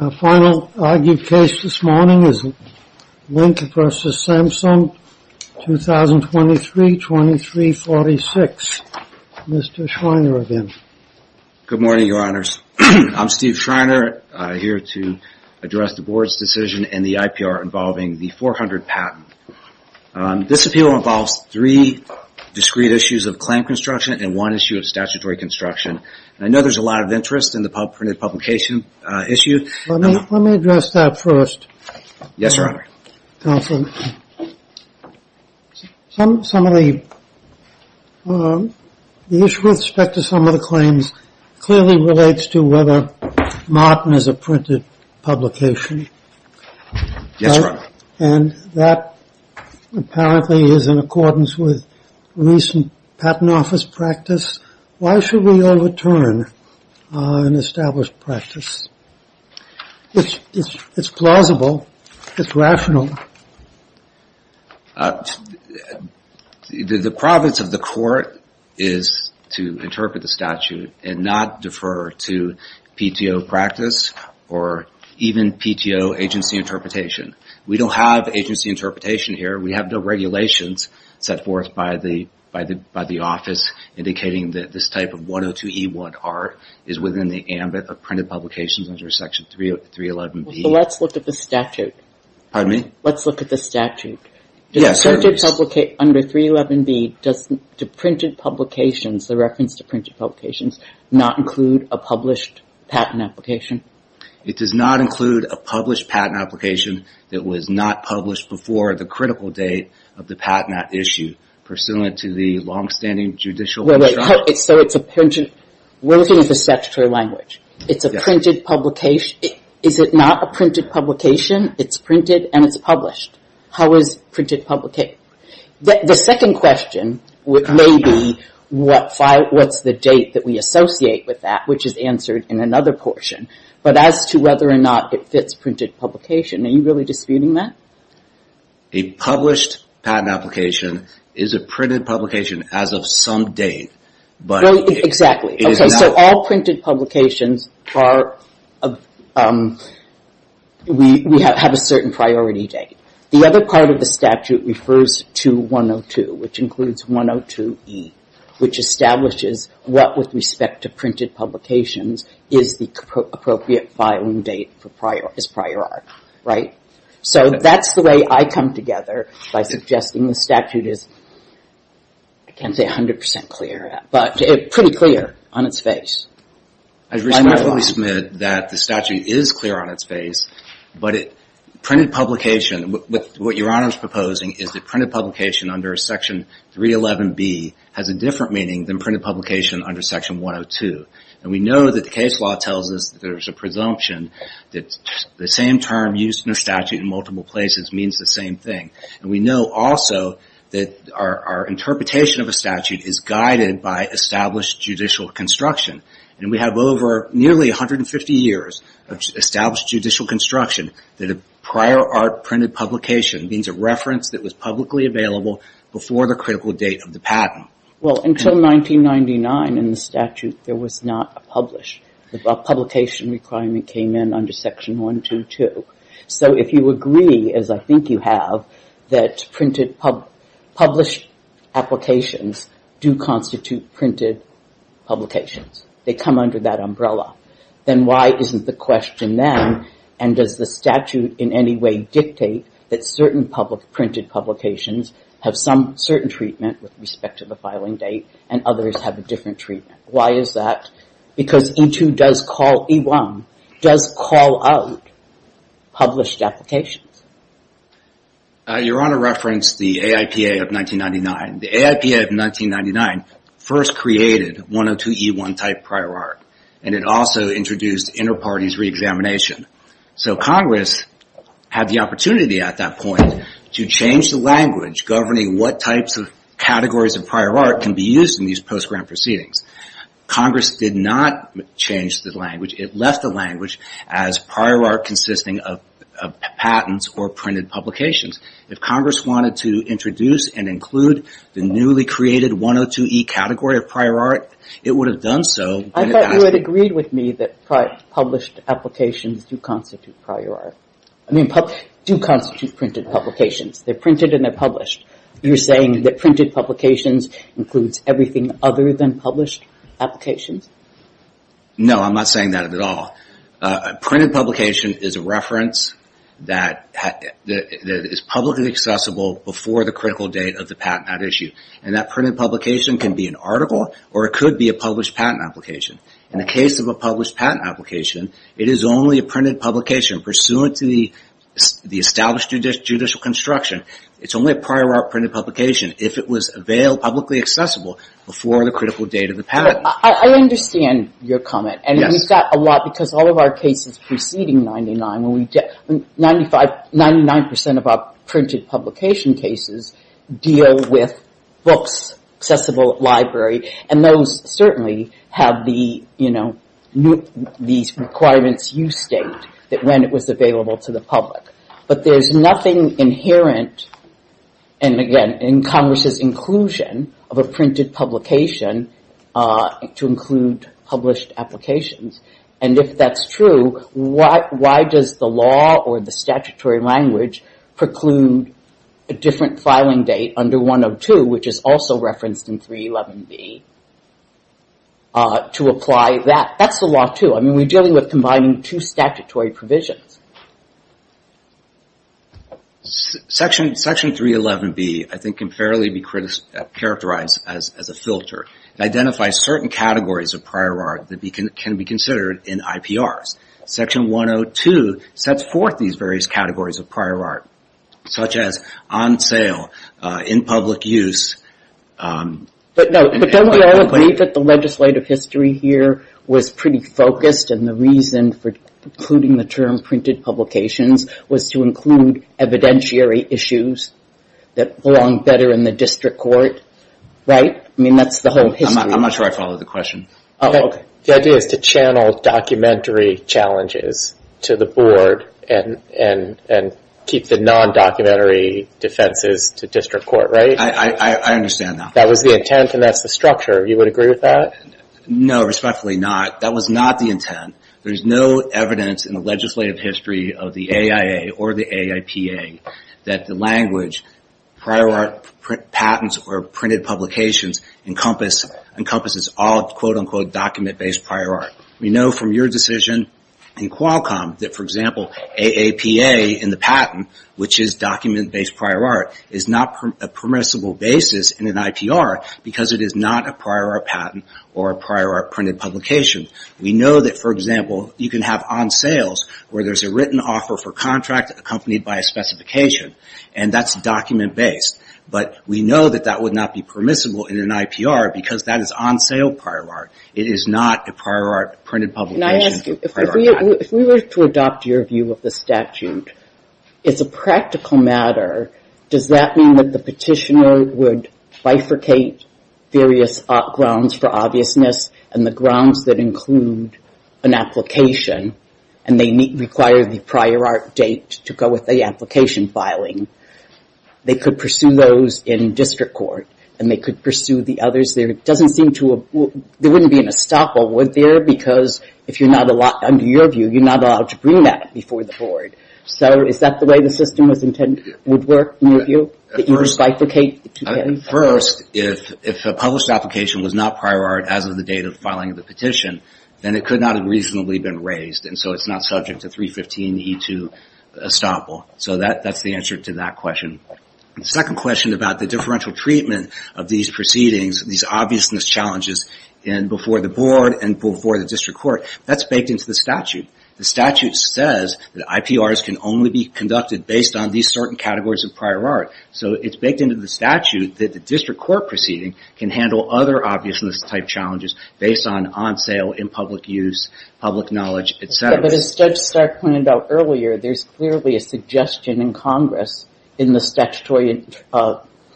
Our final argued case this morning is Link v. Samsung, 2023-2346. Mr. Schreiner, again. Good morning, Your Honors. I'm Steve Schreiner, here to address the Board's decision in the IPR involving the 400 patent. This appeal involves three discrete issues of claim construction and one issue of statutory construction. I know there's a lot of interest in the printed publication issue. Let me address that first. Yes, Your Honor. Counsel, the issue with respect to some of the claims clearly relates to whether Martin is a printed publication. Yes, Your Honor. And that apparently is in accordance with recent patent office practice. Why should we overturn an established practice? It's plausible. It's rational. The province of the court is to interpret the statute and not defer to PTO practice or even PTO agency interpretation. We don't have agency interpretation here. We have no regulations set forth by the office indicating that this type of 102E1R is within the ambit of printed publications under Section 311B. Let's look at the statute. Does the statute under 311B, does the reference to printed publications not include a published patent application? It does not include a published patent application that was not published before the critical date of the patent at issue pursuant to the long-standing judicial... We're looking at the statutory language. It's a printed publication. Is it not a printed publication? It's printed and it's published. How is printed publication? The second question may be what's the date that we associate with that, which is answered in another portion. But as to whether or not it fits printed publication, are you really disputing that? A published patent application is a printed publication as of some date. Exactly. So all printed publications have a certain priority date. The other part of the statute refers to 102, which includes 102E, which establishes what, with respect to printed publications, is the appropriate filing date as prior art, right? So that's the way I come together by suggesting the statute is, I can't say 100% clear, but pretty clear on its face. I respectfully submit that the statute is clear on its face, but what Your Honor is proposing is that printed publication under section 311B has a different meaning than printed publication under section 102. And we know that the case law tells us there's a presumption that the same term used in a statute in multiple places means the same thing. And we know also that our interpretation of a statute is guided by established judicial construction. And we have over nearly 150 years of established judicial construction that a prior art printed publication means a reference that was publicly available before the critical date of the patent. Well, until 1999 in the statute, there was not a published, a publication requirement came in under section 122. So if you agree, as I think you have, that published applications do constitute printed publications, they come under that umbrella, then why isn't the question then, and does the statute in any way dictate that certain printed publications have some certain treatment with respect to the filing date and others have a different treatment? Why is that? Because E2 does call, E1 does call out published applications. Your Honor referenced the AIPA of 1999. The AIPA of 1999 first created 102E1 type prior art, and it also introduced inter-parties re-examination. So Congress had the opportunity at that point to change the language governing what types of categories of prior art can be used in these post-grant proceedings. Congress did not change the language. It left the language as prior art consisting of patents or printed publications. If Congress wanted to introduce and include the newly created 102E category of prior art, it would have done so. I thought you had agreed with me that published applications do constitute prior art. I mean, do constitute printed publications. They're printed and they're published. You're saying that printed publications includes everything other than published applications? No, I'm not saying that at all. Printed publication is a reference that is publicly accessible before the critical date of the patent at issue. And that printed publication can be an article or it could be a published patent application. In the case of a published patent application, it is only a printed publication pursuant to the established judicial construction. It's only a prior art printed publication if it was availed publicly accessible before the critical date of the patent. I understand your comment. And we've got a lot because all of our cases preceding 99, 99% of our printed publication cases deal with books, accessible library. And those certainly have these requirements you state that when it was available to the public. But there's nothing inherent, and again, in Congress's inclusion of a printed publication to include published applications. And if that's true, why does the law or the statutory language preclude a different filing date under 102, which is also referenced in 311B, to apply that? That's the law too. I mean, we're dealing with combining two statutory provisions. Section 311B, I think, can fairly be characterized as a filter. It identifies certain categories of prior art that can be considered in IPRs. Section 102 sets forth these various categories of prior art, such as on sale, in public use. But don't we all agree that the legislative history here was pretty focused and the reason for including the term printed publications was to include evidentiary issues that belong better in the district court, right? I mean, that's the whole history. I'm not sure I followed the question. The idea is to channel documentary challenges to the board and keep the non-documentary defenses to district court, right? I understand that. That was the intent and that's the structure. You would agree with that? No, respectfully not. That was not the intent. There's no evidence in the legislative history of the AIA or the AIPA that the language prior art patents or printed publications encompasses all, quote, unquote, document-based prior art. We know from your decision in Qualcomm that, for example, AAPA in the patent, which is document-based prior art, is not a permissible basis in an IPR because it is not a prior art patent or a prior art printed publication. We know that, for example, you can have on sales where there's a written offer for contract accompanied by a specification and that's document-based, but we know that that would not be permissible in an IPR because that is on sale prior art. It is not a prior art printed publication or prior art patent. If we were to adopt your view of the statute, it's a practical matter. Does that mean that the petitioner would bifurcate various grounds for obviousness and the grounds that include an application and they require the prior art date to go with the application filing, they could pursue those in district court and they could pursue the others? There wouldn't be an estoppel there because, under your view, you're not allowed to bring that before the board. Is that the way the system would work in your view? That you would bifurcate? First, if a published application was not prior art as of the date of filing of the petition, then it could not have reasonably been raised and so it's not subject to 315 E2 estoppel. That's the answer to that question. Second question about the differential treatment of these proceedings, these obviousness challenges before the board and before the district court, that's baked into the statute. The statute says that IPRs can only be conducted based on these certain categories of prior art. It's baked into the statute that the district court proceeding can handle other obviousness type challenges based on on sale, in public use, public knowledge, et cetera. But as Judge Stark pointed out earlier, there's clearly a suggestion in Congress in the statutory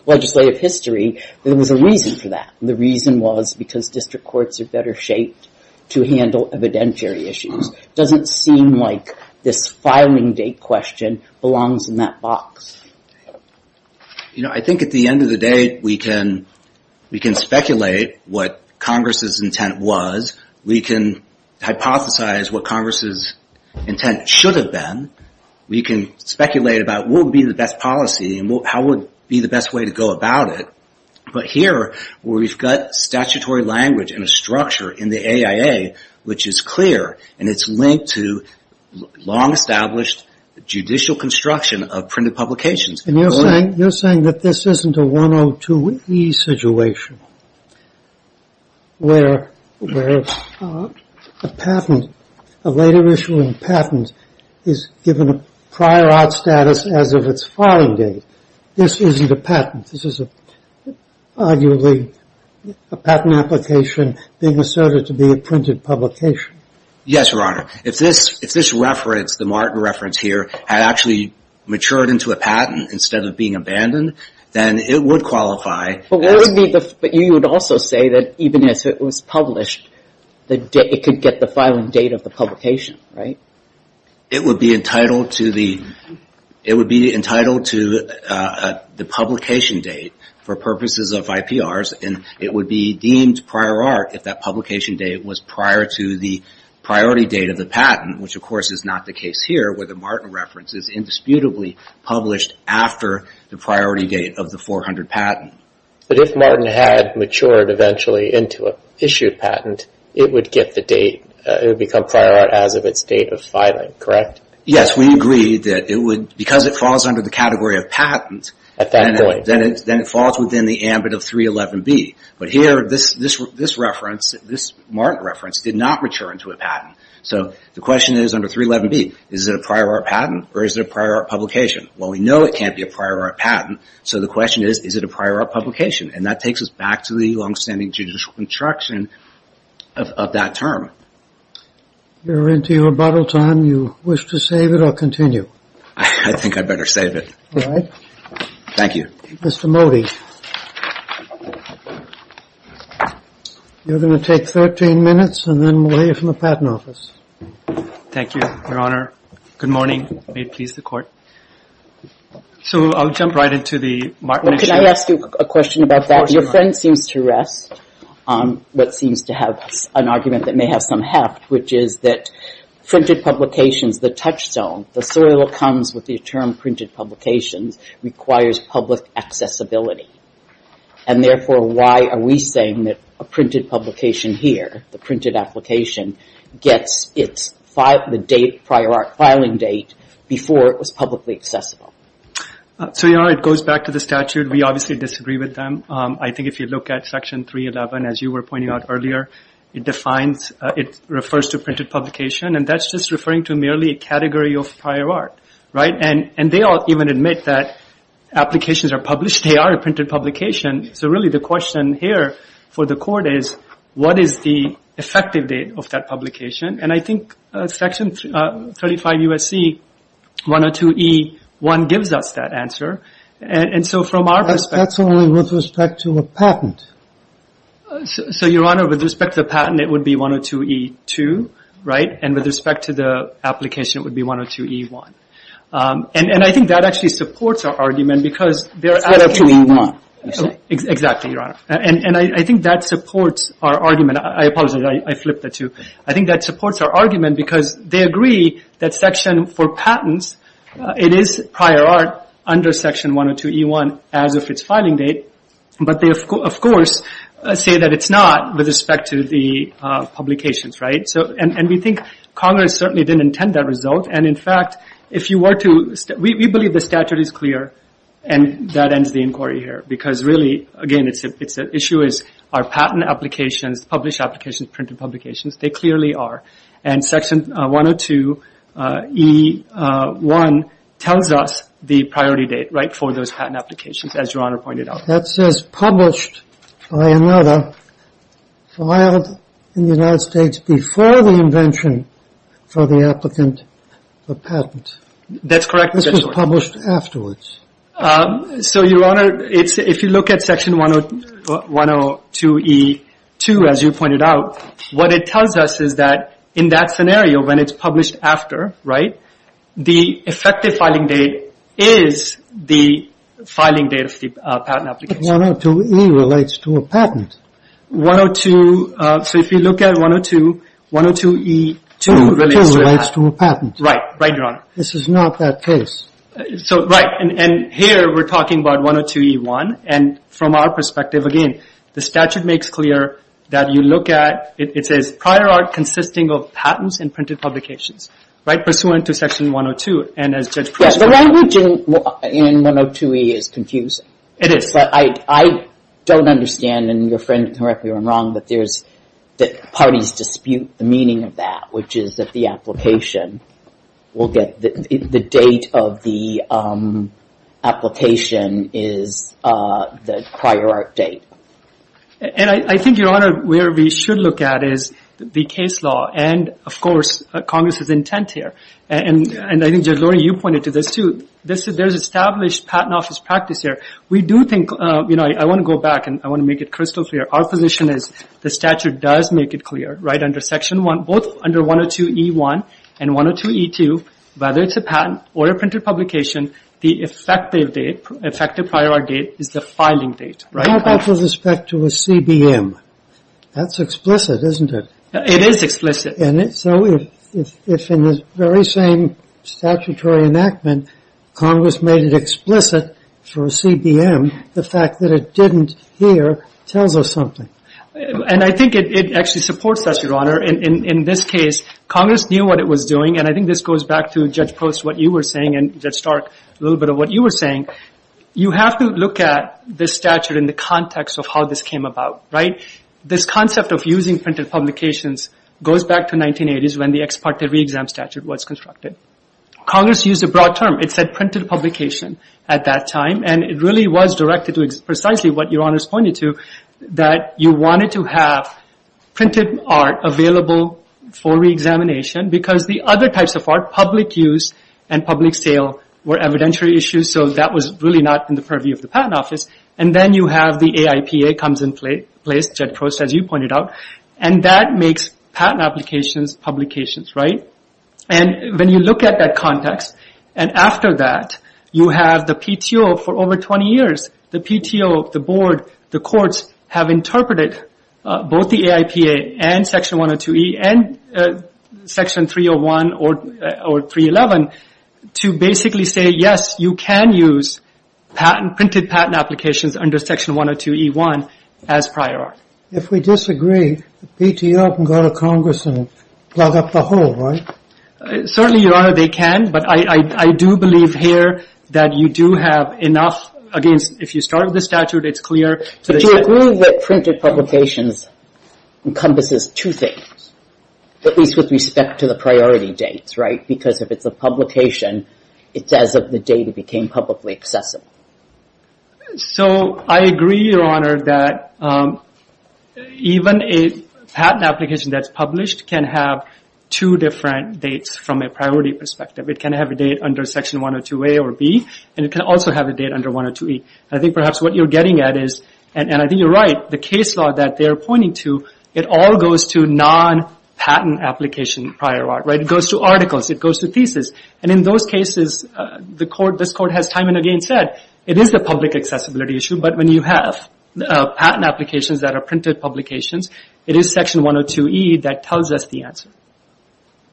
legislative history, there was a reason for that. The reason was because district courts are better shaped to handle evidentiary issues. Doesn't seem like this filing date question belongs in that box. I think at the end of the day, we can speculate what Congress's intent was. We can hypothesize what Congress's intent should have been. We can speculate about what would be the best policy and how would be the best way to go about it. But here, where we've got statutory language and a structure in the AIA, which is clear and it's linked to long established judicial construction of printed publications. And you're saying that this isn't a 102e situation where a patent, a later issuing patent is given a prior art status as of its filing date. This isn't a patent. This is arguably a patent application being asserted to be a printed publication. Yes, Your Honor. If this reference, the Martin reference here, had actually matured into a patent instead of being abandoned, then it would qualify. But you would also say that even as it was published, it could get the filing date of the publication, right? It would be entitled to the publication date for purposes of IPRs and it would be deemed prior art if that publication date was prior to the priority date of the patent, which of course is not the case here where the Martin reference is indisputably published after the priority date of the 400 patent. But if Martin had matured eventually into an issued patent, it would get the date. It would become prior art as of its date of filing, correct? Yes, we agree that because it falls under the category of patent, then it falls within the ambit of 311b. But here, this reference, this Martin reference, did not mature into a patent. So the question is under 311b, is it a prior art patent or is it a prior art publication? Well, we know it can't be a prior art patent. So the question is, is it a prior art publication? And that takes us back to the longstanding judicial construction of that term. We're into your bottle time. You wish to save it or continue? I think I'd better save it. All right. Thank you. Mr. Mody, you're going to take 13 minutes and then we'll hear from the Patent Office. Thank you, Your Honor. Good morning. May it please the Court. So I'll jump right into the Martin issue. Can I ask you a question about that? Your friend seems to rest on what seems to have an argument that may have some heft, which is that printed publications, the touchstone, the soil that comes with the term printed publications requires public accessibility. And therefore, why are we saying that a printed publication here, the printed application, gets the prior art filing date before it was publicly accessible? So, Your Honor, it goes back to the statute. We obviously disagree with them. I think if you look at Section 311, as you were pointing out earlier, it defines, it refers to printed publication. And that's just referring to merely a category of prior art, right? And they all even admit that applications are published. They are a printed publication. So really the question here for the Court is, what is the effective date of that publication? And I think Section 35 U.S.C. 102e1 gives us that answer. And so from our perspective— That's only with respect to a patent. So, Your Honor, with respect to the patent, it would be 102e2, right? And with respect to the application, it would be 102e1. And I think that actually supports our argument because they're— 102e1, you say? Exactly, Your Honor. And I think that supports our argument. I apologize. I flipped the two. I think that supports our argument because they agree that Section for patents, it is prior art under Section 102e1 as of its filing date. But they, of course, say that it's not with respect to the publications, right? So, and we think Congress certainly didn't intend that result. And in fact, if you were to— We believe the statute is clear, and that ends the inquiry here. Because really, again, the issue is, are patent applications, published applications, printed publications? They clearly are. And Section 102e1 tells us the priority date, right, for those patent applications, as Your Honor pointed out. That says, published by another, filed in the United States before the invention for the applicant, the patent. That's correct. This was published afterwards. So, Your Honor, if you look at Section 102e2, as you pointed out, what it tells us is that in that scenario, when it's published after, right, the effective filing date is the filing date of the patent application. But 102e relates to a patent. 102, so if you look at 102, 102e2 relates to a patent. Right, right, Your Honor. This is not that case. So, right, and here we're talking about 102e1. And from our perspective, again, the statute makes clear that you look at, it says, prior art consisting of patents and printed publications, right, pursuant to Section 102. And as Judge Pruitt— Yes, the language in 102e is confusing. It is. I don't understand, and your friend can correct me if I'm wrong, but there's, that parties dispute the meaning of that, which is that the application will get, the date of the application is the prior art date. And I think, Your Honor, where we should look at is the case law. And, of course, Congress's intent here. And I think, Judge Loring, you pointed to this, too. There's established patent office practice here. We do think, you know, I want to go back and I want to make it crystal clear. Our position is the statute does make it clear, right, under Section 1, both under 102e1 and 102e2, whether it's a patent or a printed publication, the effective date, effective prior art date is the filing date, right? How about with respect to a CBM? That's explicit, isn't it? It is explicit. So, if in the very same statutory enactment, Congress made it explicit for a CBM, the fact that it didn't here tells us something. And I think it actually supports that, Your Honor. In this case, Congress knew what it was doing, and I think this goes back to Judge Post, what you were saying, and Judge Stark, a little bit of what you were saying. You have to look at this statute in the context of how this came about, right? This concept of using printed publications goes back to 1980s when the ex parte re-exam statute was constructed. Congress used a broad term. It said printed publication at that time, and it really was directed to precisely what Your Honor is pointing to, that you wanted to have printed art available for re-examination because the other types of art, public use and public sale were evidentiary issues, so that was really not in the purview of the Patent Office. And then you have the AIPA comes in place, Judge Post, as you pointed out, and that makes patent applications publications, right? And when you look at that context, and after that, you have the PTO for over 20 years. The PTO, the board, the courts have interpreted both the AIPA and Section 102E and Section 301 or 311 to basically say, yes, you can use printed patent applications under Section 102E1 as prior art. If we disagree, the PTO can go to Congress and plug up the hole, right? Certainly, Your Honor, they can, but I do believe here that you do have enough, again, if you start with the statute, it's clear. Do you agree that printed publications encompasses two things, at least with respect to the priority dates, right? Because if it's a publication, it's as if the data became publicly accessible. So I agree, Your Honor, that even a patent application that's published can have two different dates from a priority perspective. It can have a date under Section 102A or B, and it can also have a date under 102E. I think perhaps what you're getting at is, and I think you're right, the case law that they're pointing to, it all goes to non-patent application prior art, right? It goes to articles, it goes to thesis. And in those cases, this Court has time and again said, it is a public accessibility issue, but when you have patent applications that are printed publications, it is Section 102E that tells us the answer.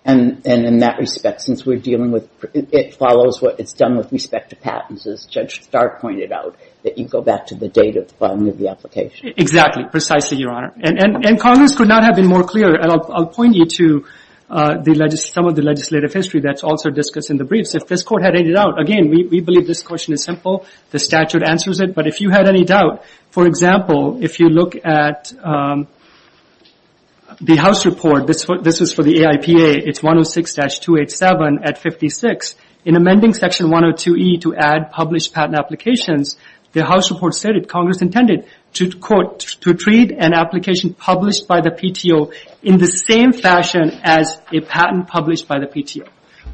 And in that respect, since we're dealing with, it follows what it's done with respect to patents, as Judge Stark pointed out, that you go back to the date of the filing of the application. Exactly, precisely, Your Honor. And Congress could not have been more clear, and I'll point you to some of the legislative history that's also discussed in the briefs. If this Court had any doubt, again, we believe this question is simple, the statute answers it. But if you had any doubt, for example, if you look at the House report, this is for the AIPA, it's 106-287 at 56. In amending Section 102E to add published patent applications, the House report stated Congress intended to, quote, to treat an application published by the PTO in the same fashion as a patent published by the PTO.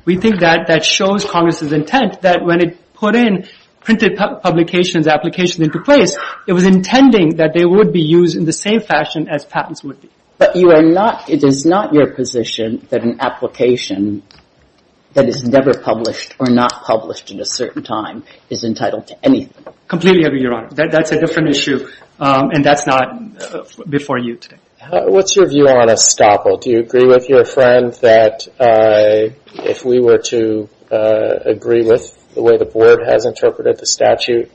We think that that shows Congress's intent that when it put in printed publications, applications into place, it was intending that they would be used in the same fashion as patents would be. But you are not, it is not your position that an application that is never published or not published in a certain time is entitled to anything. Completely agree, Your Honor. That's a different issue, and that's not before you today. What's your view on estoppel? Do you agree with your friend that if we were to agree with the way the Board has interpreted the statute,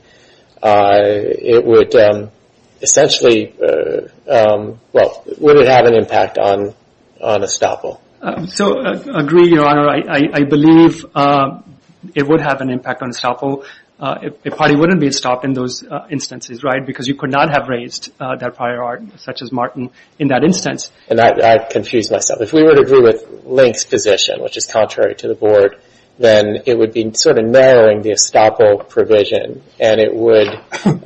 it would essentially, well, would it have an impact on estoppel? So, agree, Your Honor. I believe it would have an impact on estoppel. It probably wouldn't be stopped in those instances, right? Because you could not have raised that prior art, such as Martin, in that instance. And I've confused myself. If we were to agree with Link's position, which is contrary to the Board, then it would be sort of narrowing the estoppel provision, and it would,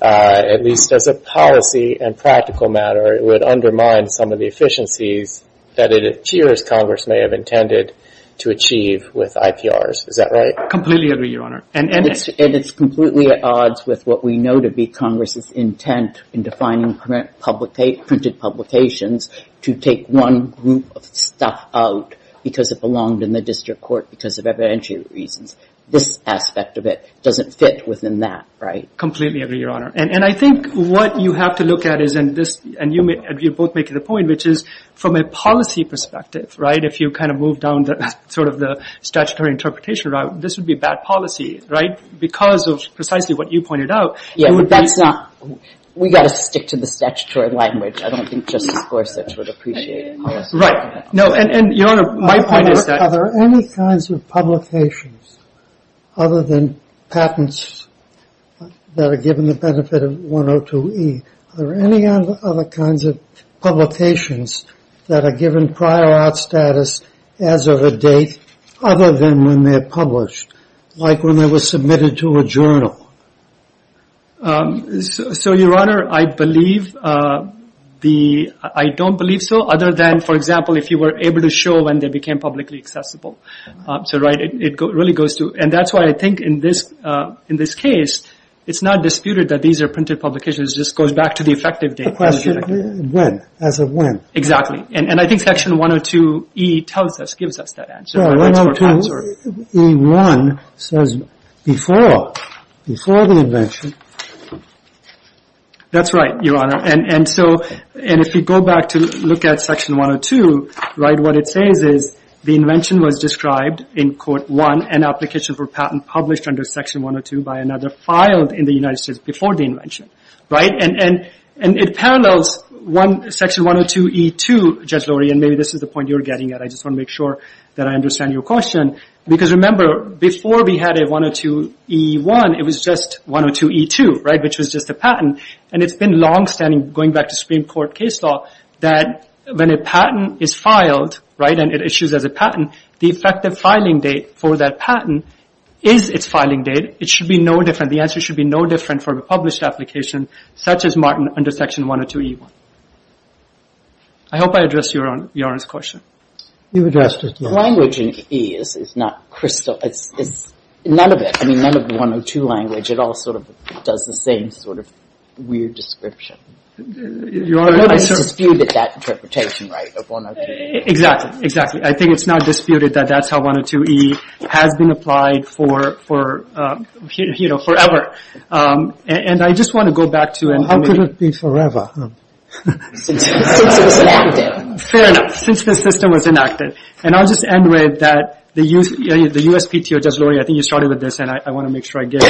at least as a policy and practical matter, it would undermine some of the efficiencies that it appears Congress may have intended to achieve with IPRs. Is that right? Completely agree, Your Honor. And it's completely at odds with what we know to be Congress's intent in defining printed publications to take one group of stuff out because it belonged in the district court because of evidentiary reasons. This aspect of it doesn't fit within that, right? Completely agree, Your Honor. And I think what you have to look at is, and you both make the point, which is from a policy perspective, right, if you kind of move down sort of the statutory interpretation route, this would be bad policy, right? Because of precisely what you pointed out. That's not, we got to stick to the statutory language. I don't think Justice Gorsuch would appreciate it. Right. No, and Your Honor, my point is that... Are there any kinds of publications other than patents that are given the benefit of 102E, are there any other kinds of publications that are given prior art status as of a date other than when they're published, like when they were submitted to a journal? So, Your Honor, I believe the, I don't believe so other than, for example, if you were able to show when they became publicly accessible. So, right, it really goes to, and that's why I think in this case, it's not disputed that these are printed publications. It just goes back to the effective date. The question, when? As of when? Exactly. And I think section 102E tells us, gives us that answer. 102E1 says before, before the invention. That's right, Your Honor. And so, and if you go back to look at section 102, right, what it says is the invention was described in court one, an application for patent published under section 102 by another filed in the United States before the invention, right? And it parallels section 102E2, Judge Lurie, and maybe this is the point you're getting at. I just want to make sure that I understand your question. Because remember, before we had a 102E1, it was just 102E2, right? Which was just a patent. And it's been longstanding, going back to Supreme Court case law, that when a patent is filed, right, and it issues as a patent, the effective filing date for that patent is its filing date. It should be no different. The answer should be no different from a published application such as Martin under section 102E1. I hope I addressed Your Honor's question. You addressed it, yes. Language in E is not crystal, it's none of it. I mean, none of the 102 language, it all sort of does the same sort of weird description. Your Honor, I certainly... I think it's disputed that interpretation, right, of 102E1. Exactly, exactly. I think it's not disputed that that's how 102E has been applied for, you know, forever. And I just want to go back to... Well, how could it be forever? Since it was enacted. Fair enough. Since the system was enacted. And I'll just end with that the USPTO... Judge Lori, I think you started with this, and I want to make sure I get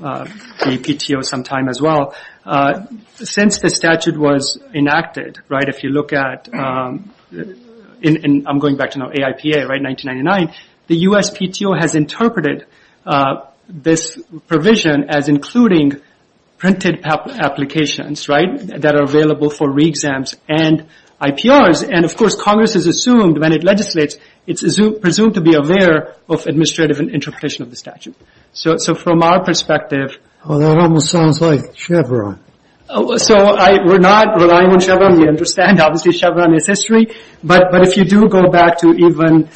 APTO sometime as well. Since the statute was enacted, right, if you look at... I'm going back to now, AIPA, right, 1999. The USPTO has interpreted this provision as including printed applications, right, that are available for re-exams and IPRs. And of course, Congress has assumed when it legislates, it's presumed to be aware of administrative and interpretation of the statute. So from our perspective... Well, that almost sounds like Chevron. So we're not relying on Chevron. We understand, obviously, Chevron is history. But if you do go back to even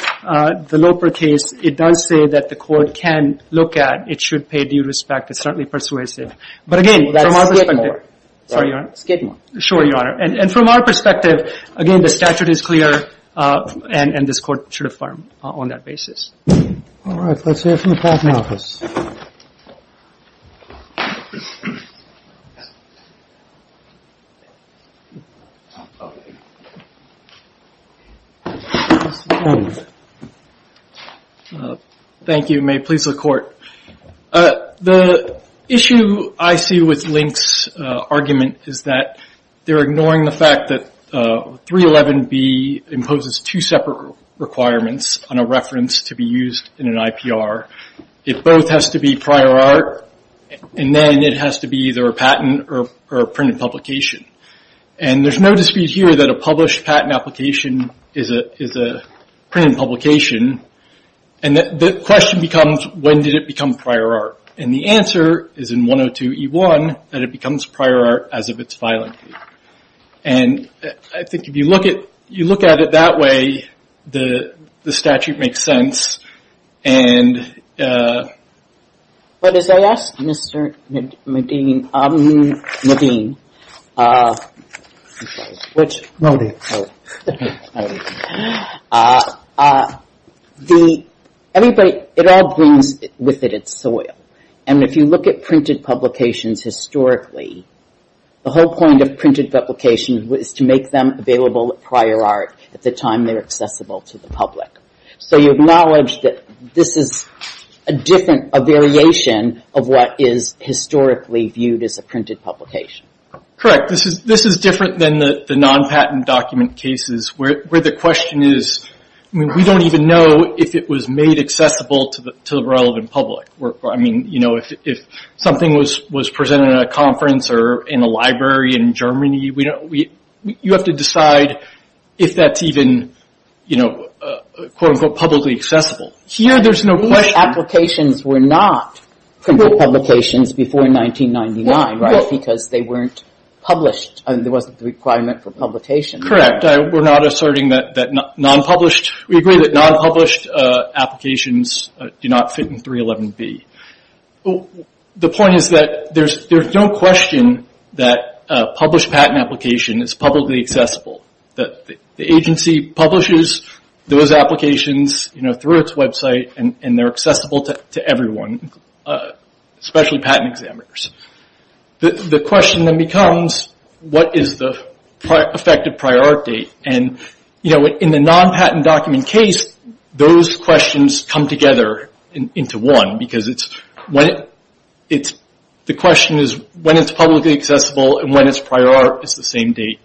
the Loper case, it does say that the court can look at, it should pay due respect. It's certainly persuasive. But again, from our perspective... That's Skidmore. Sorry, Your Honor. Skidmore. Sure, Your Honor. And from our perspective, again, the statute is clear and this court should affirm on that basis. All right. Let's hear from the Patent Office. Thank you. May it please the Court. The issue I see with Link's argument is that they're ignoring the fact that 311B imposes two separate requirements on a reference to be used in an IPR. It both has to be prior art and then it has to be either a patent or a printed publication. And there's no dispute here that a published patent application is a printed publication. And the question becomes, when did it become prior art? And the answer is in 102E1 that it becomes prior art as of its filing date. And I think if you look at it that way, the statute makes sense. And... But as I asked Mr. Nadine... Which? Anybody... It all brings with it its soil. And if you look at printed publications, historically, the whole point of printed publications was to make them available at prior art at the time they're accessible to the public. So you acknowledge that this is a different, a variation of what is historically viewed as a printed publication. Correct. This is different than the non-patent document cases where the question is, we don't even know if it was made accessible to the relevant public. I mean, if something was presented at a conference or in a library in Germany, you have to decide if that's even quote, unquote, publicly accessible. Here, there's no question... Applications were not printed publications before 1999, right? Because they weren't published. There wasn't the requirement for publication. Correct. We're not asserting that non-published... We agree that non-published applications do not fit in 311B. The point is that there's no question that a published patent application is publicly accessible. The agency publishes those applications through its website, and they're accessible to everyone, especially patent examiners. The question then becomes, what is the effective prior art date? In the non-patent document case, those questions come together into one because the question is, when it's publicly accessible and when it's prior art, it's the same date.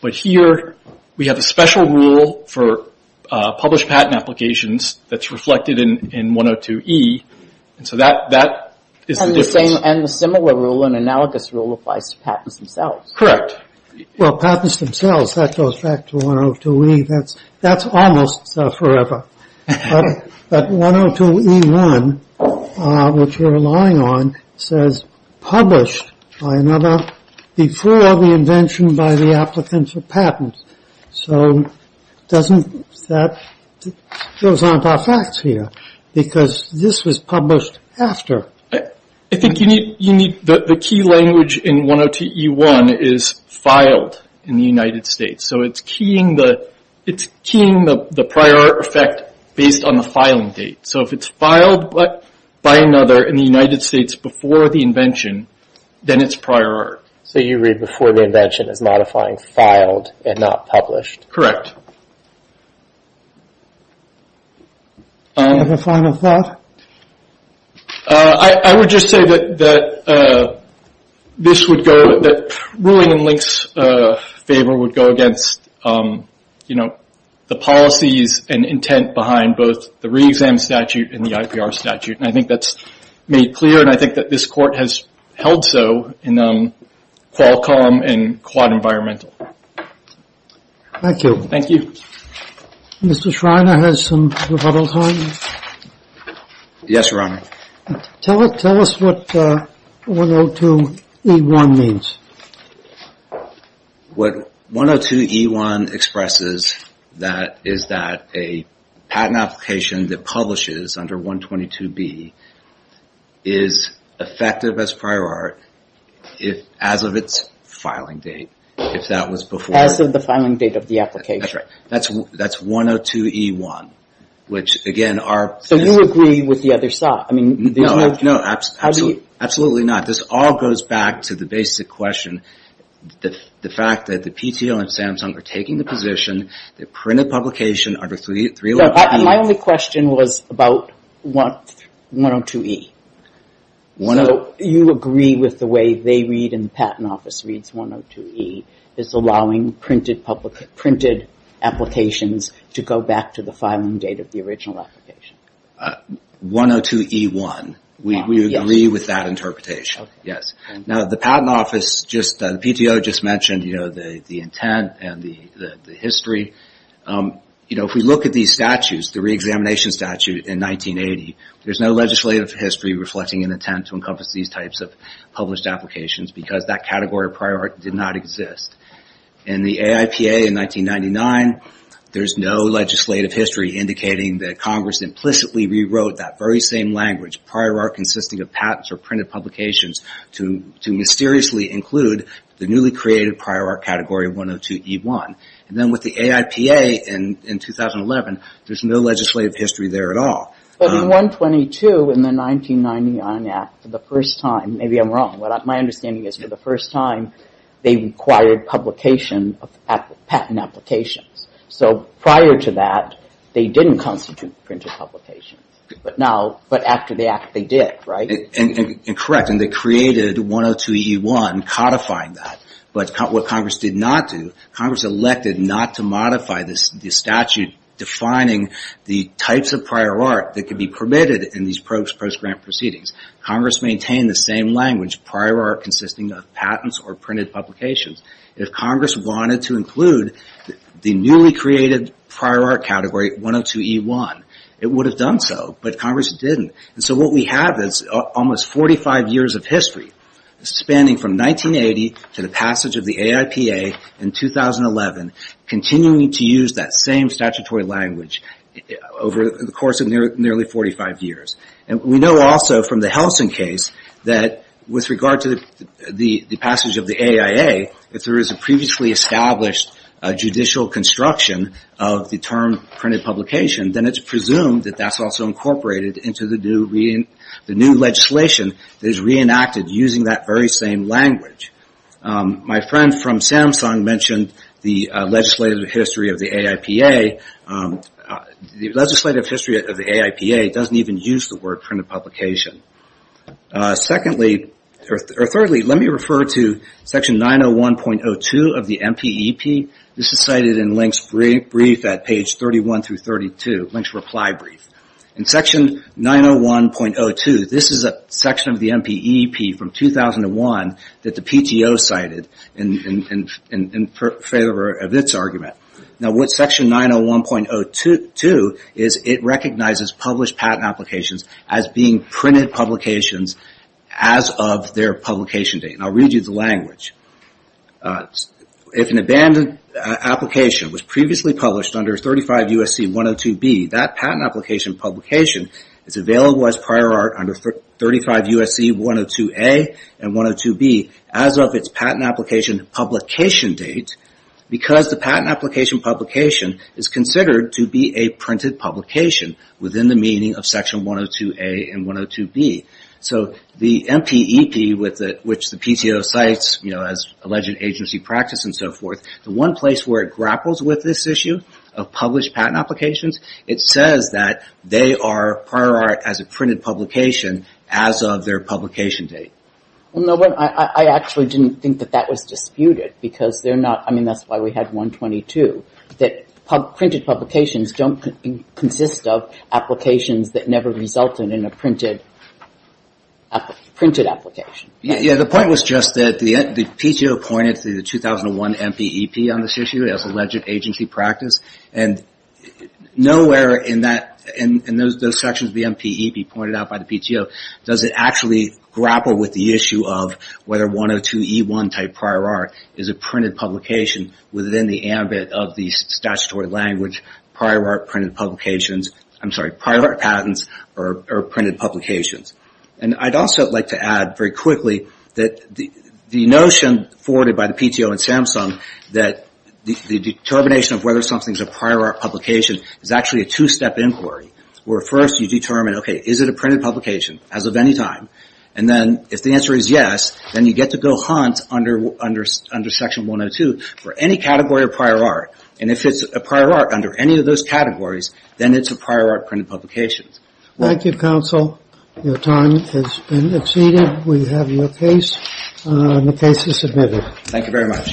But here, we have a special rule for published patent applications that's reflected in 102E, and so that is the difference. And the similar rule, an analogous rule, applies to patents themselves. Correct. Well, patents themselves, that goes back to 102E. That's almost forever. But 102E1, which we're relying on, says published by another before the invention by the applicant for patent. So that goes on to our facts here because this was published after. I think you need the key language in 102E1 is filed in the United States. So it's keying the prior art effect based on the filing date. So if it's filed by another in the United States before the invention, then it's prior art. So you read before the invention as modifying filed and not published. Correct. Any final thoughts? I would just say that this would go, that ruling in Link's favor would go against the policies and intent behind both the re-exam statute and the IPR statute. And I think that's made clear, and I think that this court has held so in Qualcomm and Quad Environmental. Thank you. Thank you. Mr. Schreiner has some rebuttal time. Yes, Your Honor. Tell us what 102E1 means. What 102E1 expresses that is that a patent application that publishes under 122B is effective as prior art as of its filing date, if that was before. As of the filing date of the application. That's right. That's 102E1, which again are... So you agree with the other side? I mean, there's no... No, absolutely not. This all goes back to the basic question. The fact that the PTO and Samsung are taking the position that printed publication under 311E... My only question was about 102E. So you agree with the way they read in the patent office reads 102E is allowing printed applications to go back to the filing date of the original application. 102E1, we agree with that interpretation. Now the patent office just... The PTO just mentioned the intent and the history. If we look at these statutes, the re-examination statute in 1980, there's no legislative history reflecting an attempt to encompass these types of published applications because that category of prior art did not exist. In the AIPA in 1999, there's no legislative history indicating that Congress implicitly rewrote that very same language, prior art consisting of patents or printed publications to mysteriously include the newly created prior art category 102E1. And then with the AIPA in 2011, there's no legislative history there at all. But in 122 in the 1999 Act, for the first time... Maybe I'm wrong. My understanding is for the first time, they required publication of patent applications. So prior to that, they didn't constitute printed publications. But after the act, they did, right? And correct. And they created 102E1 codifying that. But what Congress did not do, Congress elected not to modify this statute defining the types of prior art that could be permitted in these post-grant proceedings. Congress maintained the same language, prior art consisting of patents or printed publications. If Congress wanted to include the newly created prior art category 102E1, it would have done so, but Congress didn't. And so what we have is almost 45 years of history, spanning from 1980 to the passage of the AIPA in 2011, continuing to use that same statutory language over the course of nearly 45 years. And we know also from the Helsin case that with regard to the passage of the AIA, if there is a previously established judicial construction of the term printed publication, then it's presumed that that's also incorporated into the new legislation that is reenacted using that very same language. My friend from Samsung mentioned the legislative history of the AIPA. The legislative history of the AIPA doesn't even use the word printed publication. Secondly, or thirdly, let me refer to section 901.02 of the MPEP. This is cited in Link's brief at page 31 through 32, Link's reply brief. In section 901.02, this is a section of the MPEP from 2001 that the PTO cited in favor of its argument. Now what section 901.02 is it recognizes published patent applications as being printed publications as of their publication date. And I'll read you the language. If an abandoned application was previously published under 35 U.S.C. 102B, that patent application publication is available as prior art under 35 U.S.C. 102A and 102B as of its patent application publication date because the patent application publication is considered to be a printed publication within the meaning of section 102A and 102B. So the MPEP, which the PTO cites as alleged agency practice and so forth, the one place where it grapples with this issue of published patent applications, it says that they are prior art as a printed publication as of their publication date. Well, no, but I actually didn't think that that was disputed because they're not, I mean, that's why we had 122, that printed publications don't consist of applications that never resulted in a printed application. Yeah, the point was just that the PTO pointed to the 2001 MPEP on this issue as alleged agency practice and nowhere in those sections of the MPEP pointed out by the PTO does it actually grapple with the issue of whether 102E1 type prior art is a printed publication within the ambit of the statutory language prior art printed publications, I'm sorry, prior art patents or printed publications. And I'd also like to add very quickly that the notion forwarded by the PTO and Samsung that the determination of whether something's a prior art publication is actually a two-step inquiry where first you determine, okay, is it a printed publication as of any time? And then if the answer is yes, then you get to go hunt under section 102 for any category of prior art. And if it's a prior art under any of those categories, then it's a prior art printed publication. Thank you, counsel. Your time has been exceeded. We have your case and the case is submitted. Thank you very much.